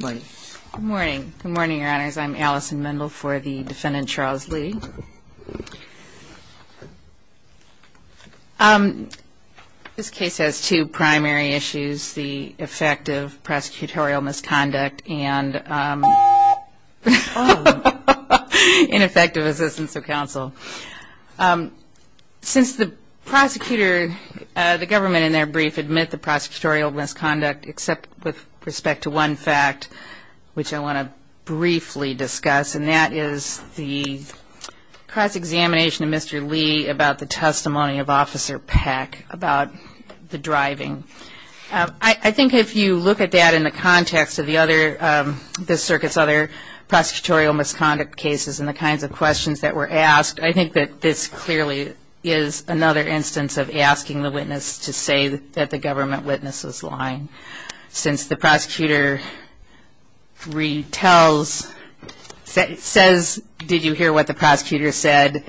Good morning. Good morning, your honors. I'm Allison Mendel for the defendant, Charles Lee. This case has two primary issues, the effect of prosecutorial misconduct and ineffective assistance of counsel. Since the prosecutor, the government in their brief admit the prosecutorial misconduct except with respect to one fact, which I want to briefly discuss, and that is the cross-examination of Mr. Lee about the testimony of Officer Peck about the driving. I think if you look at that in the context of the other, this circuit's other prosecutorial misconduct cases and the kinds of questions that were asked, I think that this clearly is another instance of asking the witness to say that the government witness is lying. Since the prosecutor retells, says, did you hear what the prosecutor said,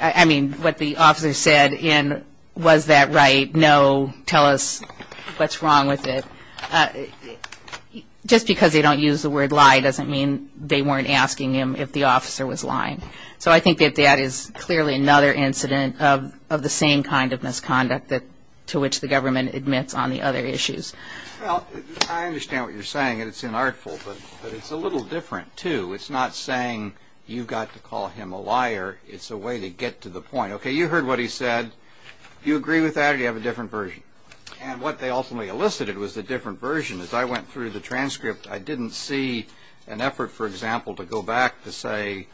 I mean, what the officer said, and was that right, no, tell us what's wrong with it. Just because they don't use the word lie doesn't mean they weren't asking him if the officer was lying. So I think that that is clearly another incident of the same kind of misconduct to which the government admits on the other issues. Well, I understand what you're saying, and it's inartful, but it's a little different, too. It's not saying you've got to call him a liar. It's a way to get to the point. Okay, you heard what he said. Do you agree with that, or do you have a different version? And what they ultimately elicited was a different version. As I went through the transcript, I didn't see an effort, for example, to go back to say,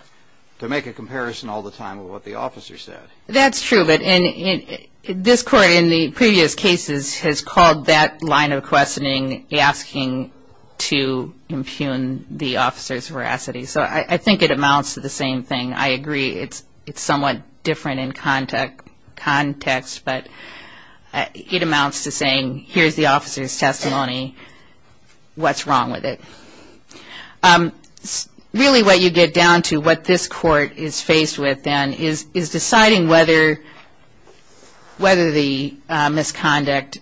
to make a comparison all the time with what the officer said. That's true, but this court in the previous cases has called that line of questioning asking to impugn the officer's veracity. So I think it amounts to the same thing. I agree it's somewhat different in context, but it amounts to saying, here's the officer's testimony. What's wrong with it? Really what you get down to, what this court is faced with then, is deciding whether the misconduct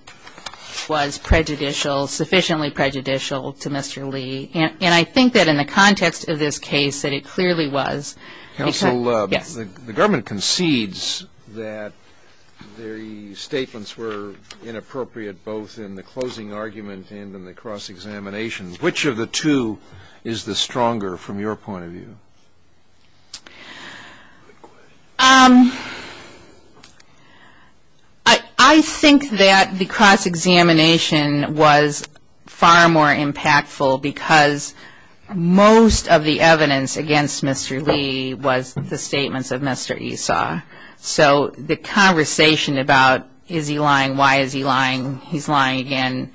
was prejudicial, sufficiently prejudicial to Mr. Lee. And I think that in the context of this case, that it clearly was. Counsel, the government concedes that the statements were inappropriate, both in the closing argument and in the cross-examination. Which of the two is the stronger, from your point of view? I think that the cross-examination was far more impactful, because most of the evidence against Mr. Lee was the statements of Mr. Esau. So the conversation about, is he lying, why is he lying, he's lying again,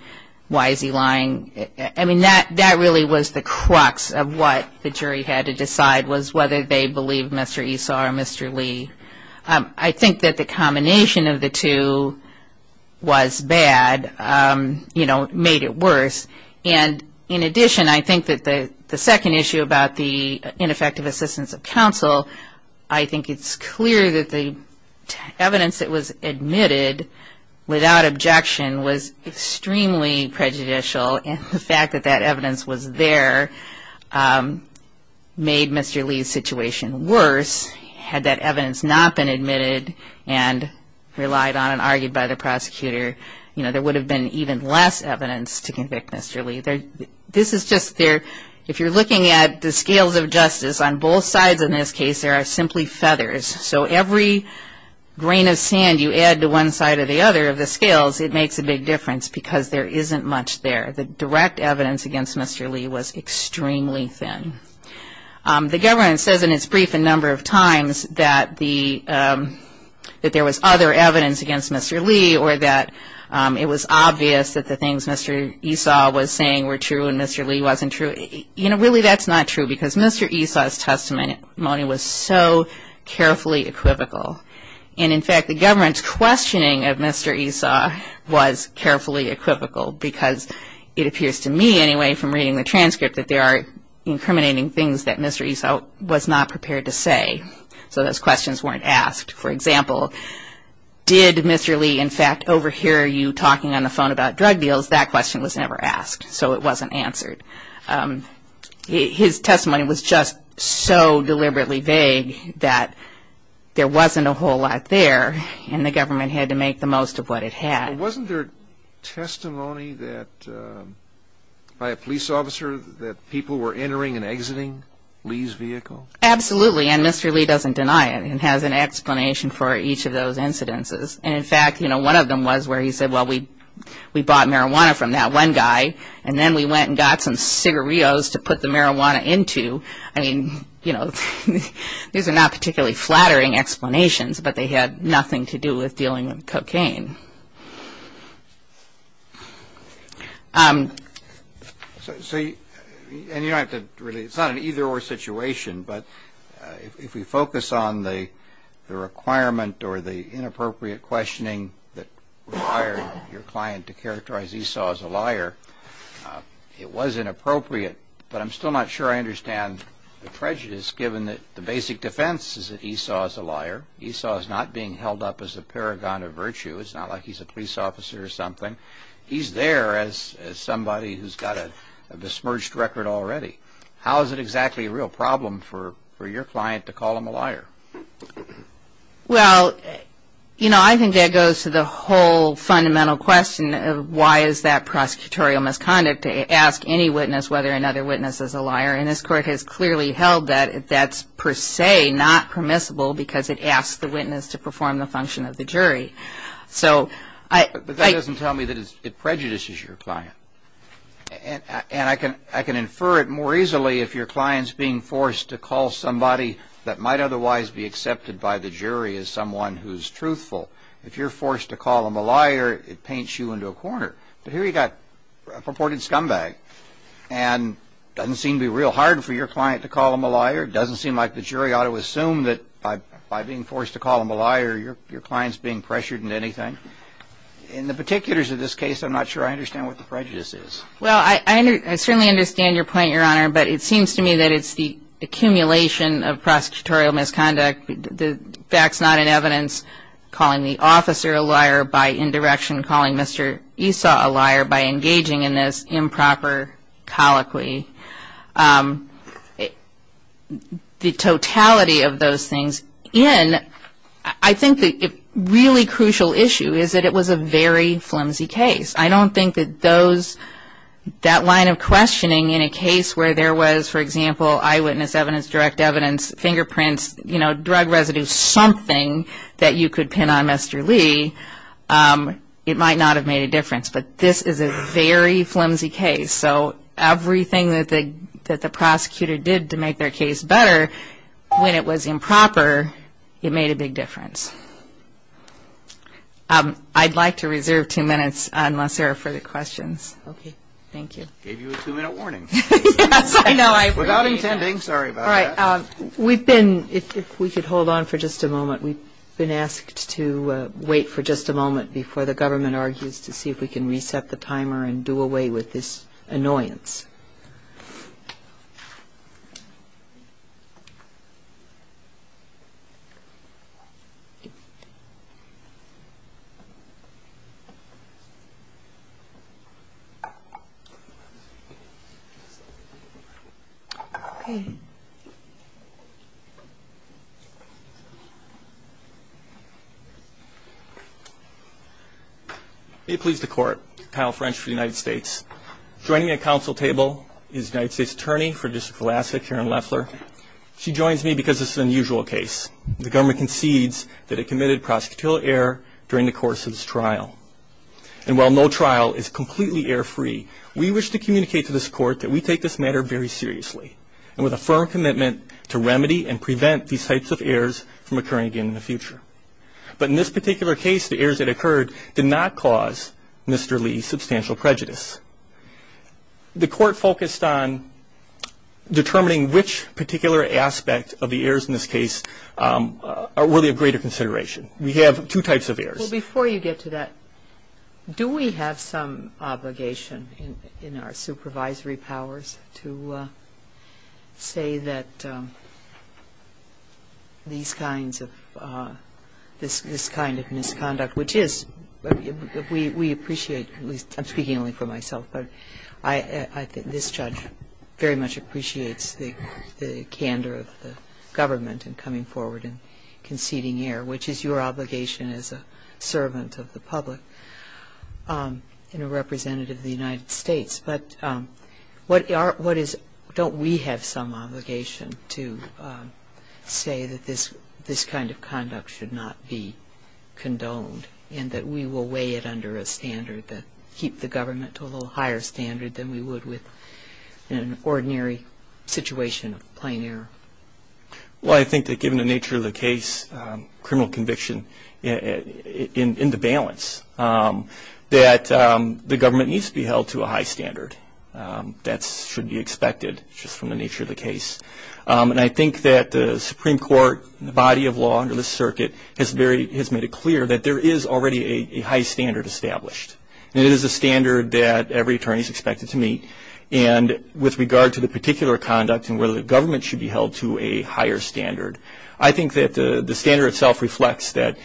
why is he lying? That really was the crux of what the jury had to decide, was whether they believed Mr. Esau or Mr. Lee. I think that the combination of the two was bad, made it worse. And in addition, I think that the second issue about the ineffective assistance of counsel, I think it's clear that the evidence that was admitted without objection was extremely prejudicial. And the fact that that evidence was there made Mr. Lee's situation worse. Had that evidence not been admitted and relied on and argued by the prosecutor, there would have been even less evidence to convict Mr. Lee. This is just there, if you're looking at the scales of justice, on both sides in this case there are simply feathers. So every grain of sand you add to one side or the other of the scales, it makes a big difference, because there isn't much there. The direct evidence against Mr. Lee was extremely thin. The government says in its brief a number of times that there was other evidence against Mr. Lee, or that it was obvious that the things Mr. Esau was saying were true and Mr. Lee wasn't true. You know, really that's not true, because Mr. Esau's testimony was so carefully equivocal. And in fact, the government's questioning of Mr. Esau was carefully equivocal, because it appears to me, anyway, from reading the transcript, that there are incriminating things that Mr. Esau was not prepared to say. So those questions weren't asked. For example, did Mr. Lee, in fact, overhear you talking on the phone about drug deals? That question was never asked, so it wasn't answered. His testimony was just so deliberately vague that there wasn't a whole lot there, and the government had to make the most of what it had. But wasn't there testimony by a police officer that people were entering and exiting Lee's vehicle? Absolutely, and Mr. Lee doesn't deny it and has an explanation for each of those incidences. And in fact, you know, one of them was where he said, well, we bought marijuana from that one guy, and then we went and got some cigarillos to put the marijuana into. I mean, you know, these are not particularly flattering explanations, but they had nothing to do with dealing with cocaine. So, and you don't have to really, it's not an either-or situation, but if we focus on the requirement or the inappropriate questioning that required your client to characterize Esau as a liar, it was inappropriate, but I'm still not sure I understand the prejudice, given that the basic defense is that Esau is a liar. Esau is not being held up as a paragon of virtue. It's not like he's a police officer or something. He's there as somebody who's got a dismerged record already. How is it exactly a real problem for your client to call him a liar? Well, you know, I think that goes to the whole fundamental question of why is that prosecutorial misconduct to ask any witness whether another witness is a liar, and this court has clearly held that that's per se not permissible because it asks the witness to perform the function of the jury. But that doesn't tell me that it prejudices your client, and I can infer it more easily if your client's being forced to call somebody that might otherwise be accepted by the jury as someone who's truthful. If you're forced to call him a liar, it paints you into a corner. But here you've got a purported scumbag, and it doesn't seem to be real hard for your client to call him a liar. It doesn't seem like the jury ought to assume that by being forced to call him a liar, your client's being pressured into anything. In the particulars of this case, I'm not sure I understand what the prejudice is. Well, I certainly understand your point, Your Honor, but it seems to me that it's the accumulation of prosecutorial misconduct, the facts not in evidence, calling the officer a liar by indirection, calling Mr. Esau a liar by engaging in this improper colloquy. The totality of those things in, I think the really crucial issue is that it was a very flimsy case. I don't think that that line of questioning in a case where there was, for example, eyewitness evidence, direct evidence, fingerprints, drug residue, something that you could pin on Mr. Lee, it might not have made a difference. But this is a very flimsy case. So everything that the prosecutor did to make their case better, when it was improper, it made a big difference. I'd like to reserve two minutes unless there are further questions. Okay. Thank you. Gave you a two-minute warning. Yes, I know. Without intending. Sorry about that. All right. We've been, if we could hold on for just a moment, we've been asked to wait for just a moment before the government argues to see if we can reset the timer and do away with this annoyance. Okay. I'm really pleased to court, Kyle French for the United States. Joining me at council table is United States Attorney for District of Alaska, Karen Loeffler. She joins me because this is an unusual case. The government concedes that it committed prosecutorial error during the course of this trial. And while no trial is completely error-free, we wish to communicate to this court that we take this matter very seriously and with a firm commitment to remedy and prevent these types of errors from occurring again in the future. But in this particular case, the errors that occurred did not cause Mr. Lee substantial prejudice. The court focused on determining which particular aspect of the errors in this case are really of greater consideration. We have two types of errors. Well, before you get to that, do we have some obligation in our supervisory powers to say that these kinds of, this kind of misconduct, which is, we appreciate, I'm speaking only for myself, but I think this judge very much appreciates the candor of the government in coming forward and conceding error, which is your obligation as a servant of the public and a representative of the United States. But what is, don't we have some obligation to say that this kind of conduct should not be condoned and that we will weigh it under a standard that keep the government to a little higher standard than we would with an ordinary situation of plain error? Well, I think that given the nature of the case, criminal conviction in the balance, that the government needs to be held to a high standard. That should be expected just from the nature of the case. And I think that the Supreme Court, the body of law under this circuit, has made it clear that there is already a high standard established. It is a standard that every attorney is expected to meet. And with regard to the particular conduct and whether the government should be held to a higher standard, I think that the standard itself reflects that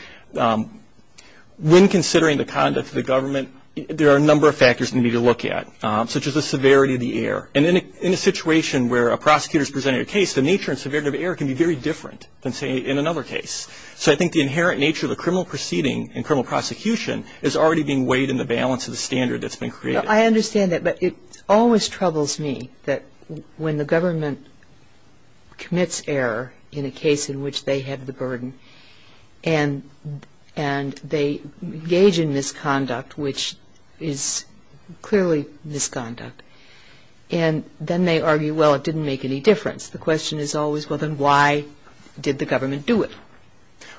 when considering the conduct of the government, there are a number of factors for me to look at, such as the severity of the error. And in a situation where a prosecutor is presenting a case, the nature and severity of error can be very different than, say, in another case. So I think the inherent nature of the criminal proceeding and criminal prosecution is already being weighed in the balance of the standard that's been created. I understand that. But it always troubles me that when the government commits error in a case in which they have the burden and they engage in misconduct, which is clearly misconduct, and then they argue, well, it didn't make any difference, the question is always, well, then why did the government do it?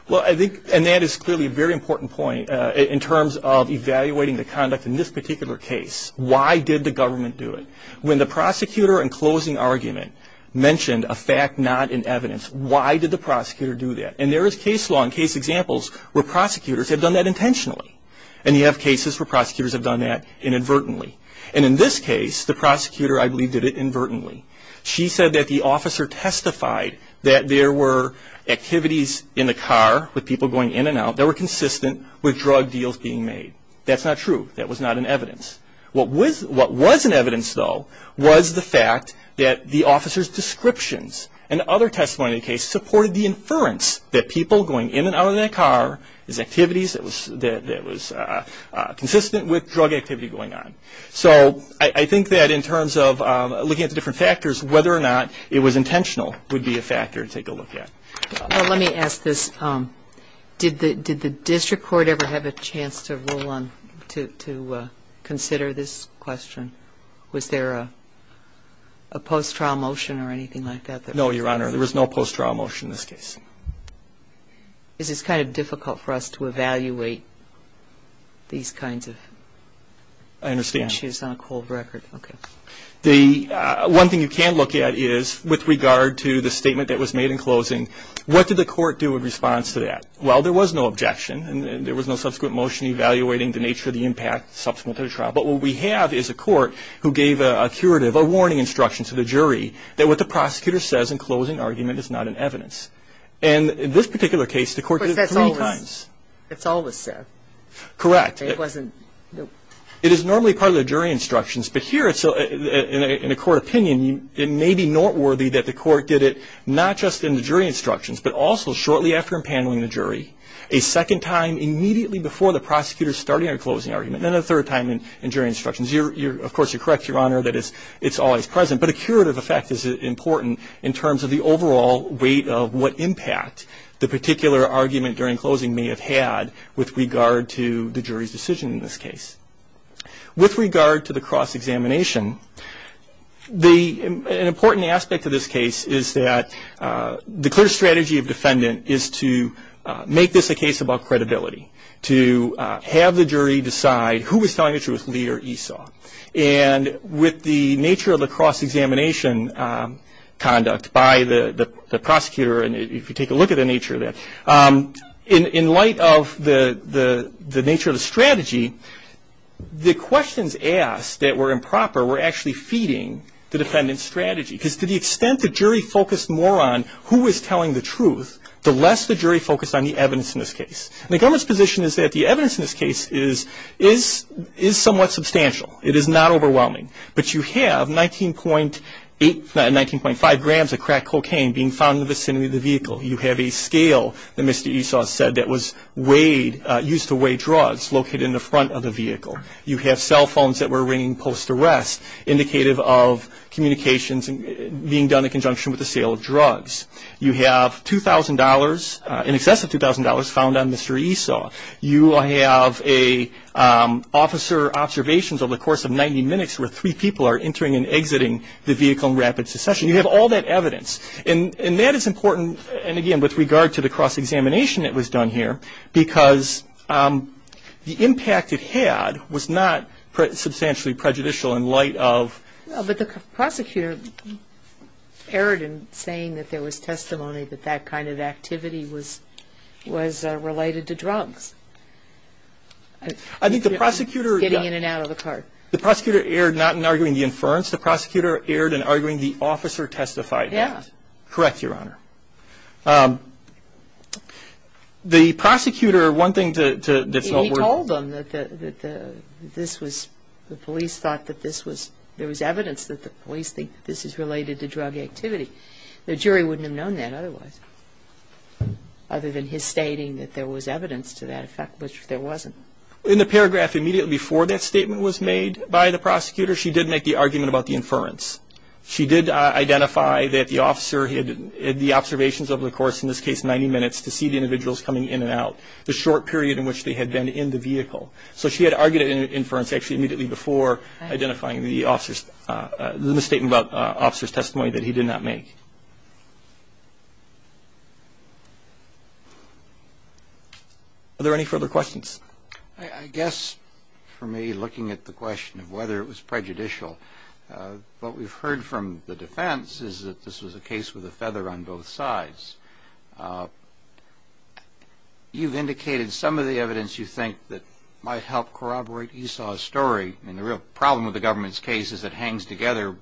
Well, I think, and that is clearly a very important point in terms of evaluating the conduct in this particular case. Why did the government do it? When the prosecutor in closing argument mentioned a fact not in evidence, why did the prosecutor do that? And there is case law and case examples where prosecutors have done that intentionally. And you have cases where prosecutors have done that inadvertently. And in this case, the prosecutor, I believe, did it inadvertently. She said that the officer testified that there were activities in the car with people going in and out that were consistent with drug deals being made. That's not true. That was not in evidence. What was in evidence, though, was the fact that the officer's descriptions and other testimony in the case supported the inference that people going in and out of that car is activities that was consistent with drug activity going on. So I think that in terms of looking at the different factors, whether or not it was intentional would be a factor to take a look at. Well, let me ask this. Did the district court ever have a chance to consider this question? Was there a post-trial motion or anything like that? No, Your Honor. There was no post-trial motion in this case. This is kind of difficult for us to evaluate these kinds of issues on a cold record. I understand. Okay. One thing you can look at is with regard to the statement that was made in closing, what did the court do in response to that? Well, there was no objection. There was no subsequent motion evaluating the nature of the impact subsequent to the trial. But what we have is a court who gave a curative, a warning instruction to the jury that what the prosecutor says in closing argument is not in evidence. And in this particular case, the court did it three times. But that's always said. Correct. It wasn't. It is normally part of the jury instructions. But here, in a court opinion, it may be noteworthy that the court did it not just in the jury instructions, but also shortly after impaneling the jury, a second time immediately before the prosecutor starting a closing argument, and a third time in jury instructions. Of course, you're correct, Your Honor, that it's always present. But a curative effect is important in terms of the overall weight of what impact the particular argument during closing may have had with regard to the jury's decision in this case. With regard to the cross-examination, an important aspect of this case is that the clear strategy of defendant is to make this a case about credibility, to have the jury decide who was telling the truth, Lee or Esau. And with the nature of the cross-examination conduct by the prosecutor, and if you take a look at the nature of that, in light of the nature of the strategy, the questions asked that were improper were actually feeding the defendant's strategy. Because to the extent the jury focused more on who was telling the truth, the less the jury focused on the evidence in this case. And the government's position is that the evidence in this case is somewhat substantial. It is not overwhelming. But you have 19.5 grams of crack cocaine being found in the vicinity of the vehicle. You have a scale that Mr. Esau said that was used to weigh drugs located in the front of the vehicle. You have cell phones that were ringing post-arrest, indicative of communications being done in conjunction with the sale of drugs. You have $2,000, in excess of $2,000, found on Mr. Esau. You have officer observations over the course of 90 minutes where three people are entering and exiting the vehicle in rapid succession. You have all that evidence. And that is important, and, again, with regard to the cross-examination that was done here, because the impact it had was not substantially prejudicial in light of ---- But the prosecutor erred in saying that there was testimony that that kind of activity was related to drugs. I think the prosecutor ---- Getting in and out of the car. The prosecutor erred not in arguing the inference. The prosecutor erred in arguing the officer testified. Yes. Correct, Your Honor. The prosecutor, one thing to ---- He told them that this was ---- the police thought that this was ---- there was evidence that the police think this is related to drug activity. The jury wouldn't have known that otherwise, other than his stating that there was evidence to that effect, which there wasn't. In the paragraph immediately before that statement was made by the prosecutor, she did make the argument about the inference. She did identify that the officer had the observations over the course, in this case 90 minutes, to see the individuals coming in and out. The short period in which they had been in the vehicle. So she had argued an inference actually immediately before identifying the officer's ---- the misstatement about officer's testimony that he did not make. Are there any further questions? I guess, for me, looking at the question of whether it was prejudicial, what we've heard from the defense is that this was a case with a feather on both sides. You've indicated some of the evidence you think that might help corroborate Esau's story. And the real problem with the government's case is it hangs together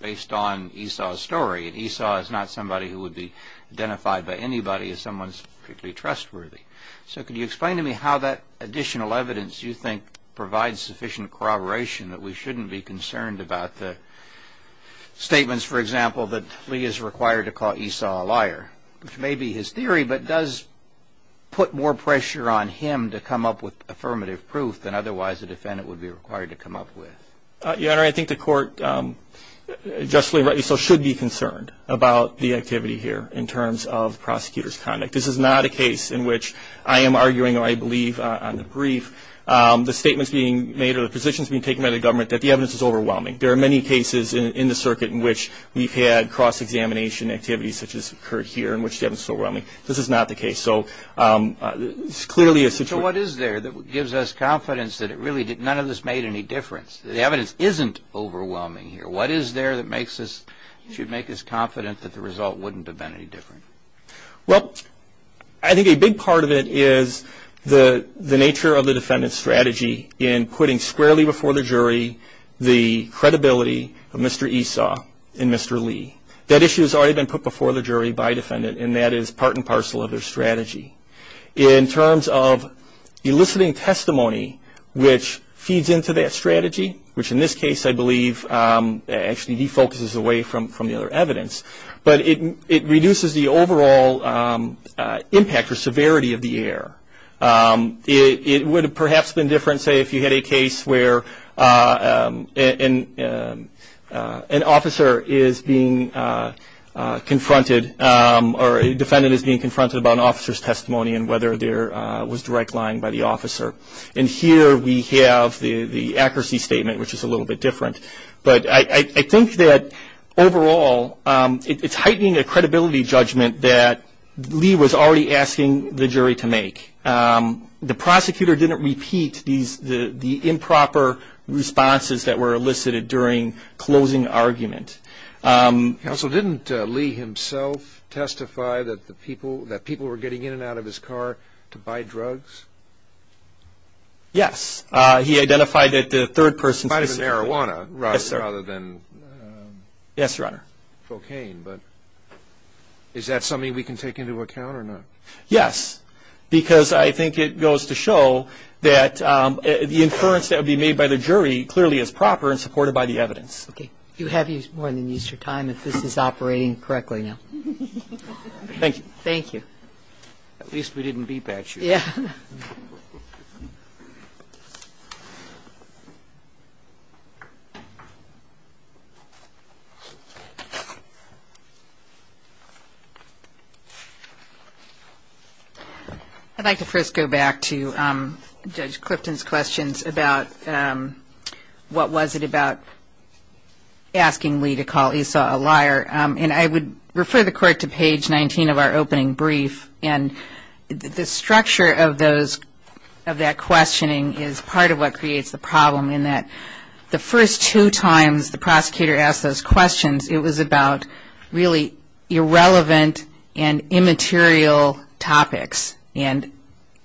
based on Esau's story. And Esau is not somebody who would be identified by anybody as someone particularly trustworthy. So can you explain to me how that additional evidence you think provides sufficient corroboration that we shouldn't be concerned about the statements, for example, that Lee is required to call Esau a liar, which may be his theory, but does put more pressure on him to come up with affirmative proof than otherwise a defendant would be required to come up with? Your Honor, I think the court, justly rightly so, should be concerned about the activity here in terms of prosecutor's conduct. This is not a case in which I am arguing, or I believe on the brief, the statements being made or the positions being taken by the government that the evidence is overwhelming. There are many cases in the circuit in which we've had cross-examination activities such as occurred here in which the evidence is overwhelming. This is not the case. So it's clearly a situation. So what is there that gives us confidence that none of this made any difference, that the evidence isn't overwhelming here? What is there that should make us confident that the result wouldn't have been any different? Well, I think a big part of it is the nature of the defendant's strategy in putting squarely before the jury the credibility of Mr. Esau and Mr. Lee. That issue has already been put before the jury by a defendant, and that is part and parcel of their strategy. In terms of eliciting testimony which feeds into that strategy, which in this case I believe actually defocuses away from the other evidence, but it reduces the overall impact or severity of the error. It would have perhaps been different, say, if you had a case where an officer is being confronted or a defendant is being confronted about an officer's testimony and whether there was direct lying by the officer. And here we have the accuracy statement, which is a little bit different. But I think that overall it's heightening a credibility judgment that Lee was already asking the jury to make. The prosecutor didn't repeat the improper responses that were elicited during closing argument. Counsel, didn't Lee himself testify that people were getting in and out of his car to buy drugs? Yes. He identified that the third person's testimony. Yes, sir. Yes, Your Honor. But is that something we can take into account or not? Yes, because I think it goes to show that the inference that would be made by the jury clearly is proper and supported by the evidence. Okay. You have more than used your time if this is operating correctly now. Thank you. Thank you. At least we didn't beat back you. Yeah. Thank you. I'd like to first go back to Judge Clifton's questions about what was it about asking Lee to call Esau a liar. And I would refer the Court to page 19 of our opening brief. And the structure of those, of that questioning is part of what creates the problem in that the first two times the prosecutor asked those questions, it was about really irrelevant and immaterial topics. And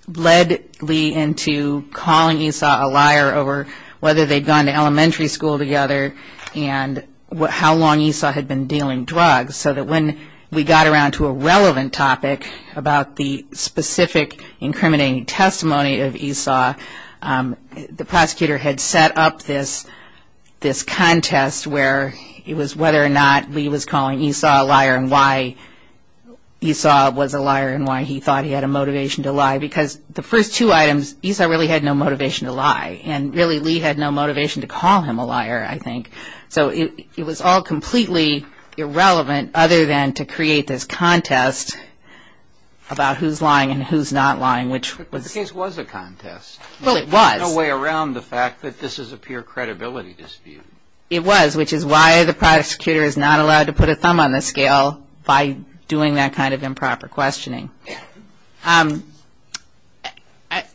led Lee into calling Esau a liar over whether they'd gone to elementary school together and how long Esau had been dealing drugs. So that when we got around to a relevant topic about the specific incriminating testimony of Esau, the prosecutor had set up this contest where it was whether or not Lee was calling Esau a liar and why Esau was a liar and why he thought he had a motivation to lie. Because the first two items, Esau really had no motivation to lie. And really Lee had no motivation to call him a liar, I think. So it was all completely irrelevant other than to create this contest about who's lying and who's not lying, which was. But the case was a contest. Well, it was. There's no way around the fact that this is a pure credibility dispute. It was, which is why the prosecutor is not allowed to put a thumb on the scale by doing that kind of improper questioning. I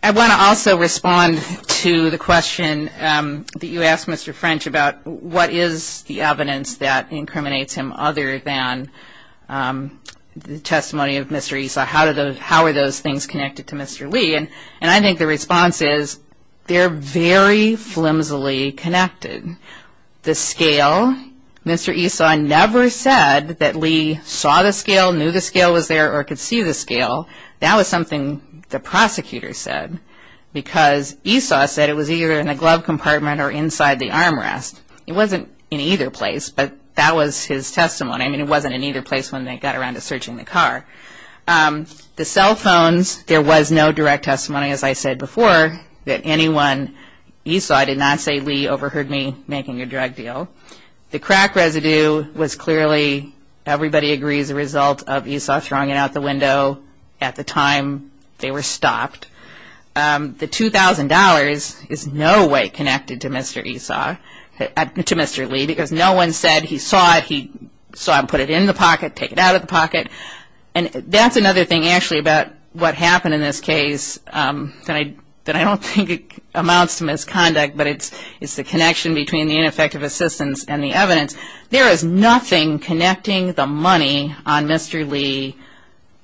want to also respond to the question that you asked, Mr. French, about what is the evidence that incriminates him other than the testimony of Mr. Esau? How are those things connected to Mr. Lee? And I think the response is they're very flimsily connected. The scale, Mr. Esau never said that Lee saw the scale, knew the scale was there, or could see the scale. That was something the prosecutor said. Because Esau said it was either in a glove compartment or inside the armrest. It wasn't in either place, but that was his testimony. I mean, it wasn't in either place when they got around to searching the car. The cell phones, there was no direct testimony, as I said before, that anyone Esau, I did not say Lee, overheard me making a drug deal. The crack residue was clearly, everybody agrees, a result of Esau throwing it out the window at the time they were stopped. The $2,000 is no way connected to Mr. Lee because no one said he saw it, he saw him put it in the pocket, take it out of the pocket. And that's another thing actually about what happened in this case that I don't think amounts to misconduct, but it's the connection between the ineffective assistance and the evidence. There is nothing connecting the money on Mr. Lee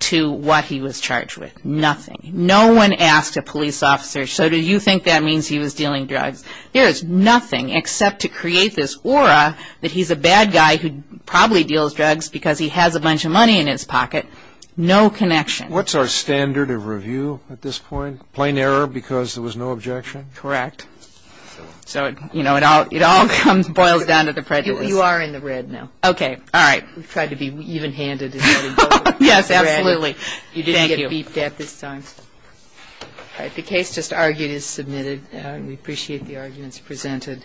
to what he was charged with. Nothing. No one asked a police officer, so do you think that means he was dealing drugs? There is nothing except to create this aura that he's a bad guy who probably deals drugs because he has a bunch of money in his pocket. No connection. What's our standard of review at this point? Plain error because there was no objection? Correct. So it all boils down to the prejudice. You are in the red now. Okay. All right. We've tried to be even-handed. Yes, absolutely. Thank you. You didn't get beeped at this time. All right. The case just argued is submitted. We appreciate the arguments presented.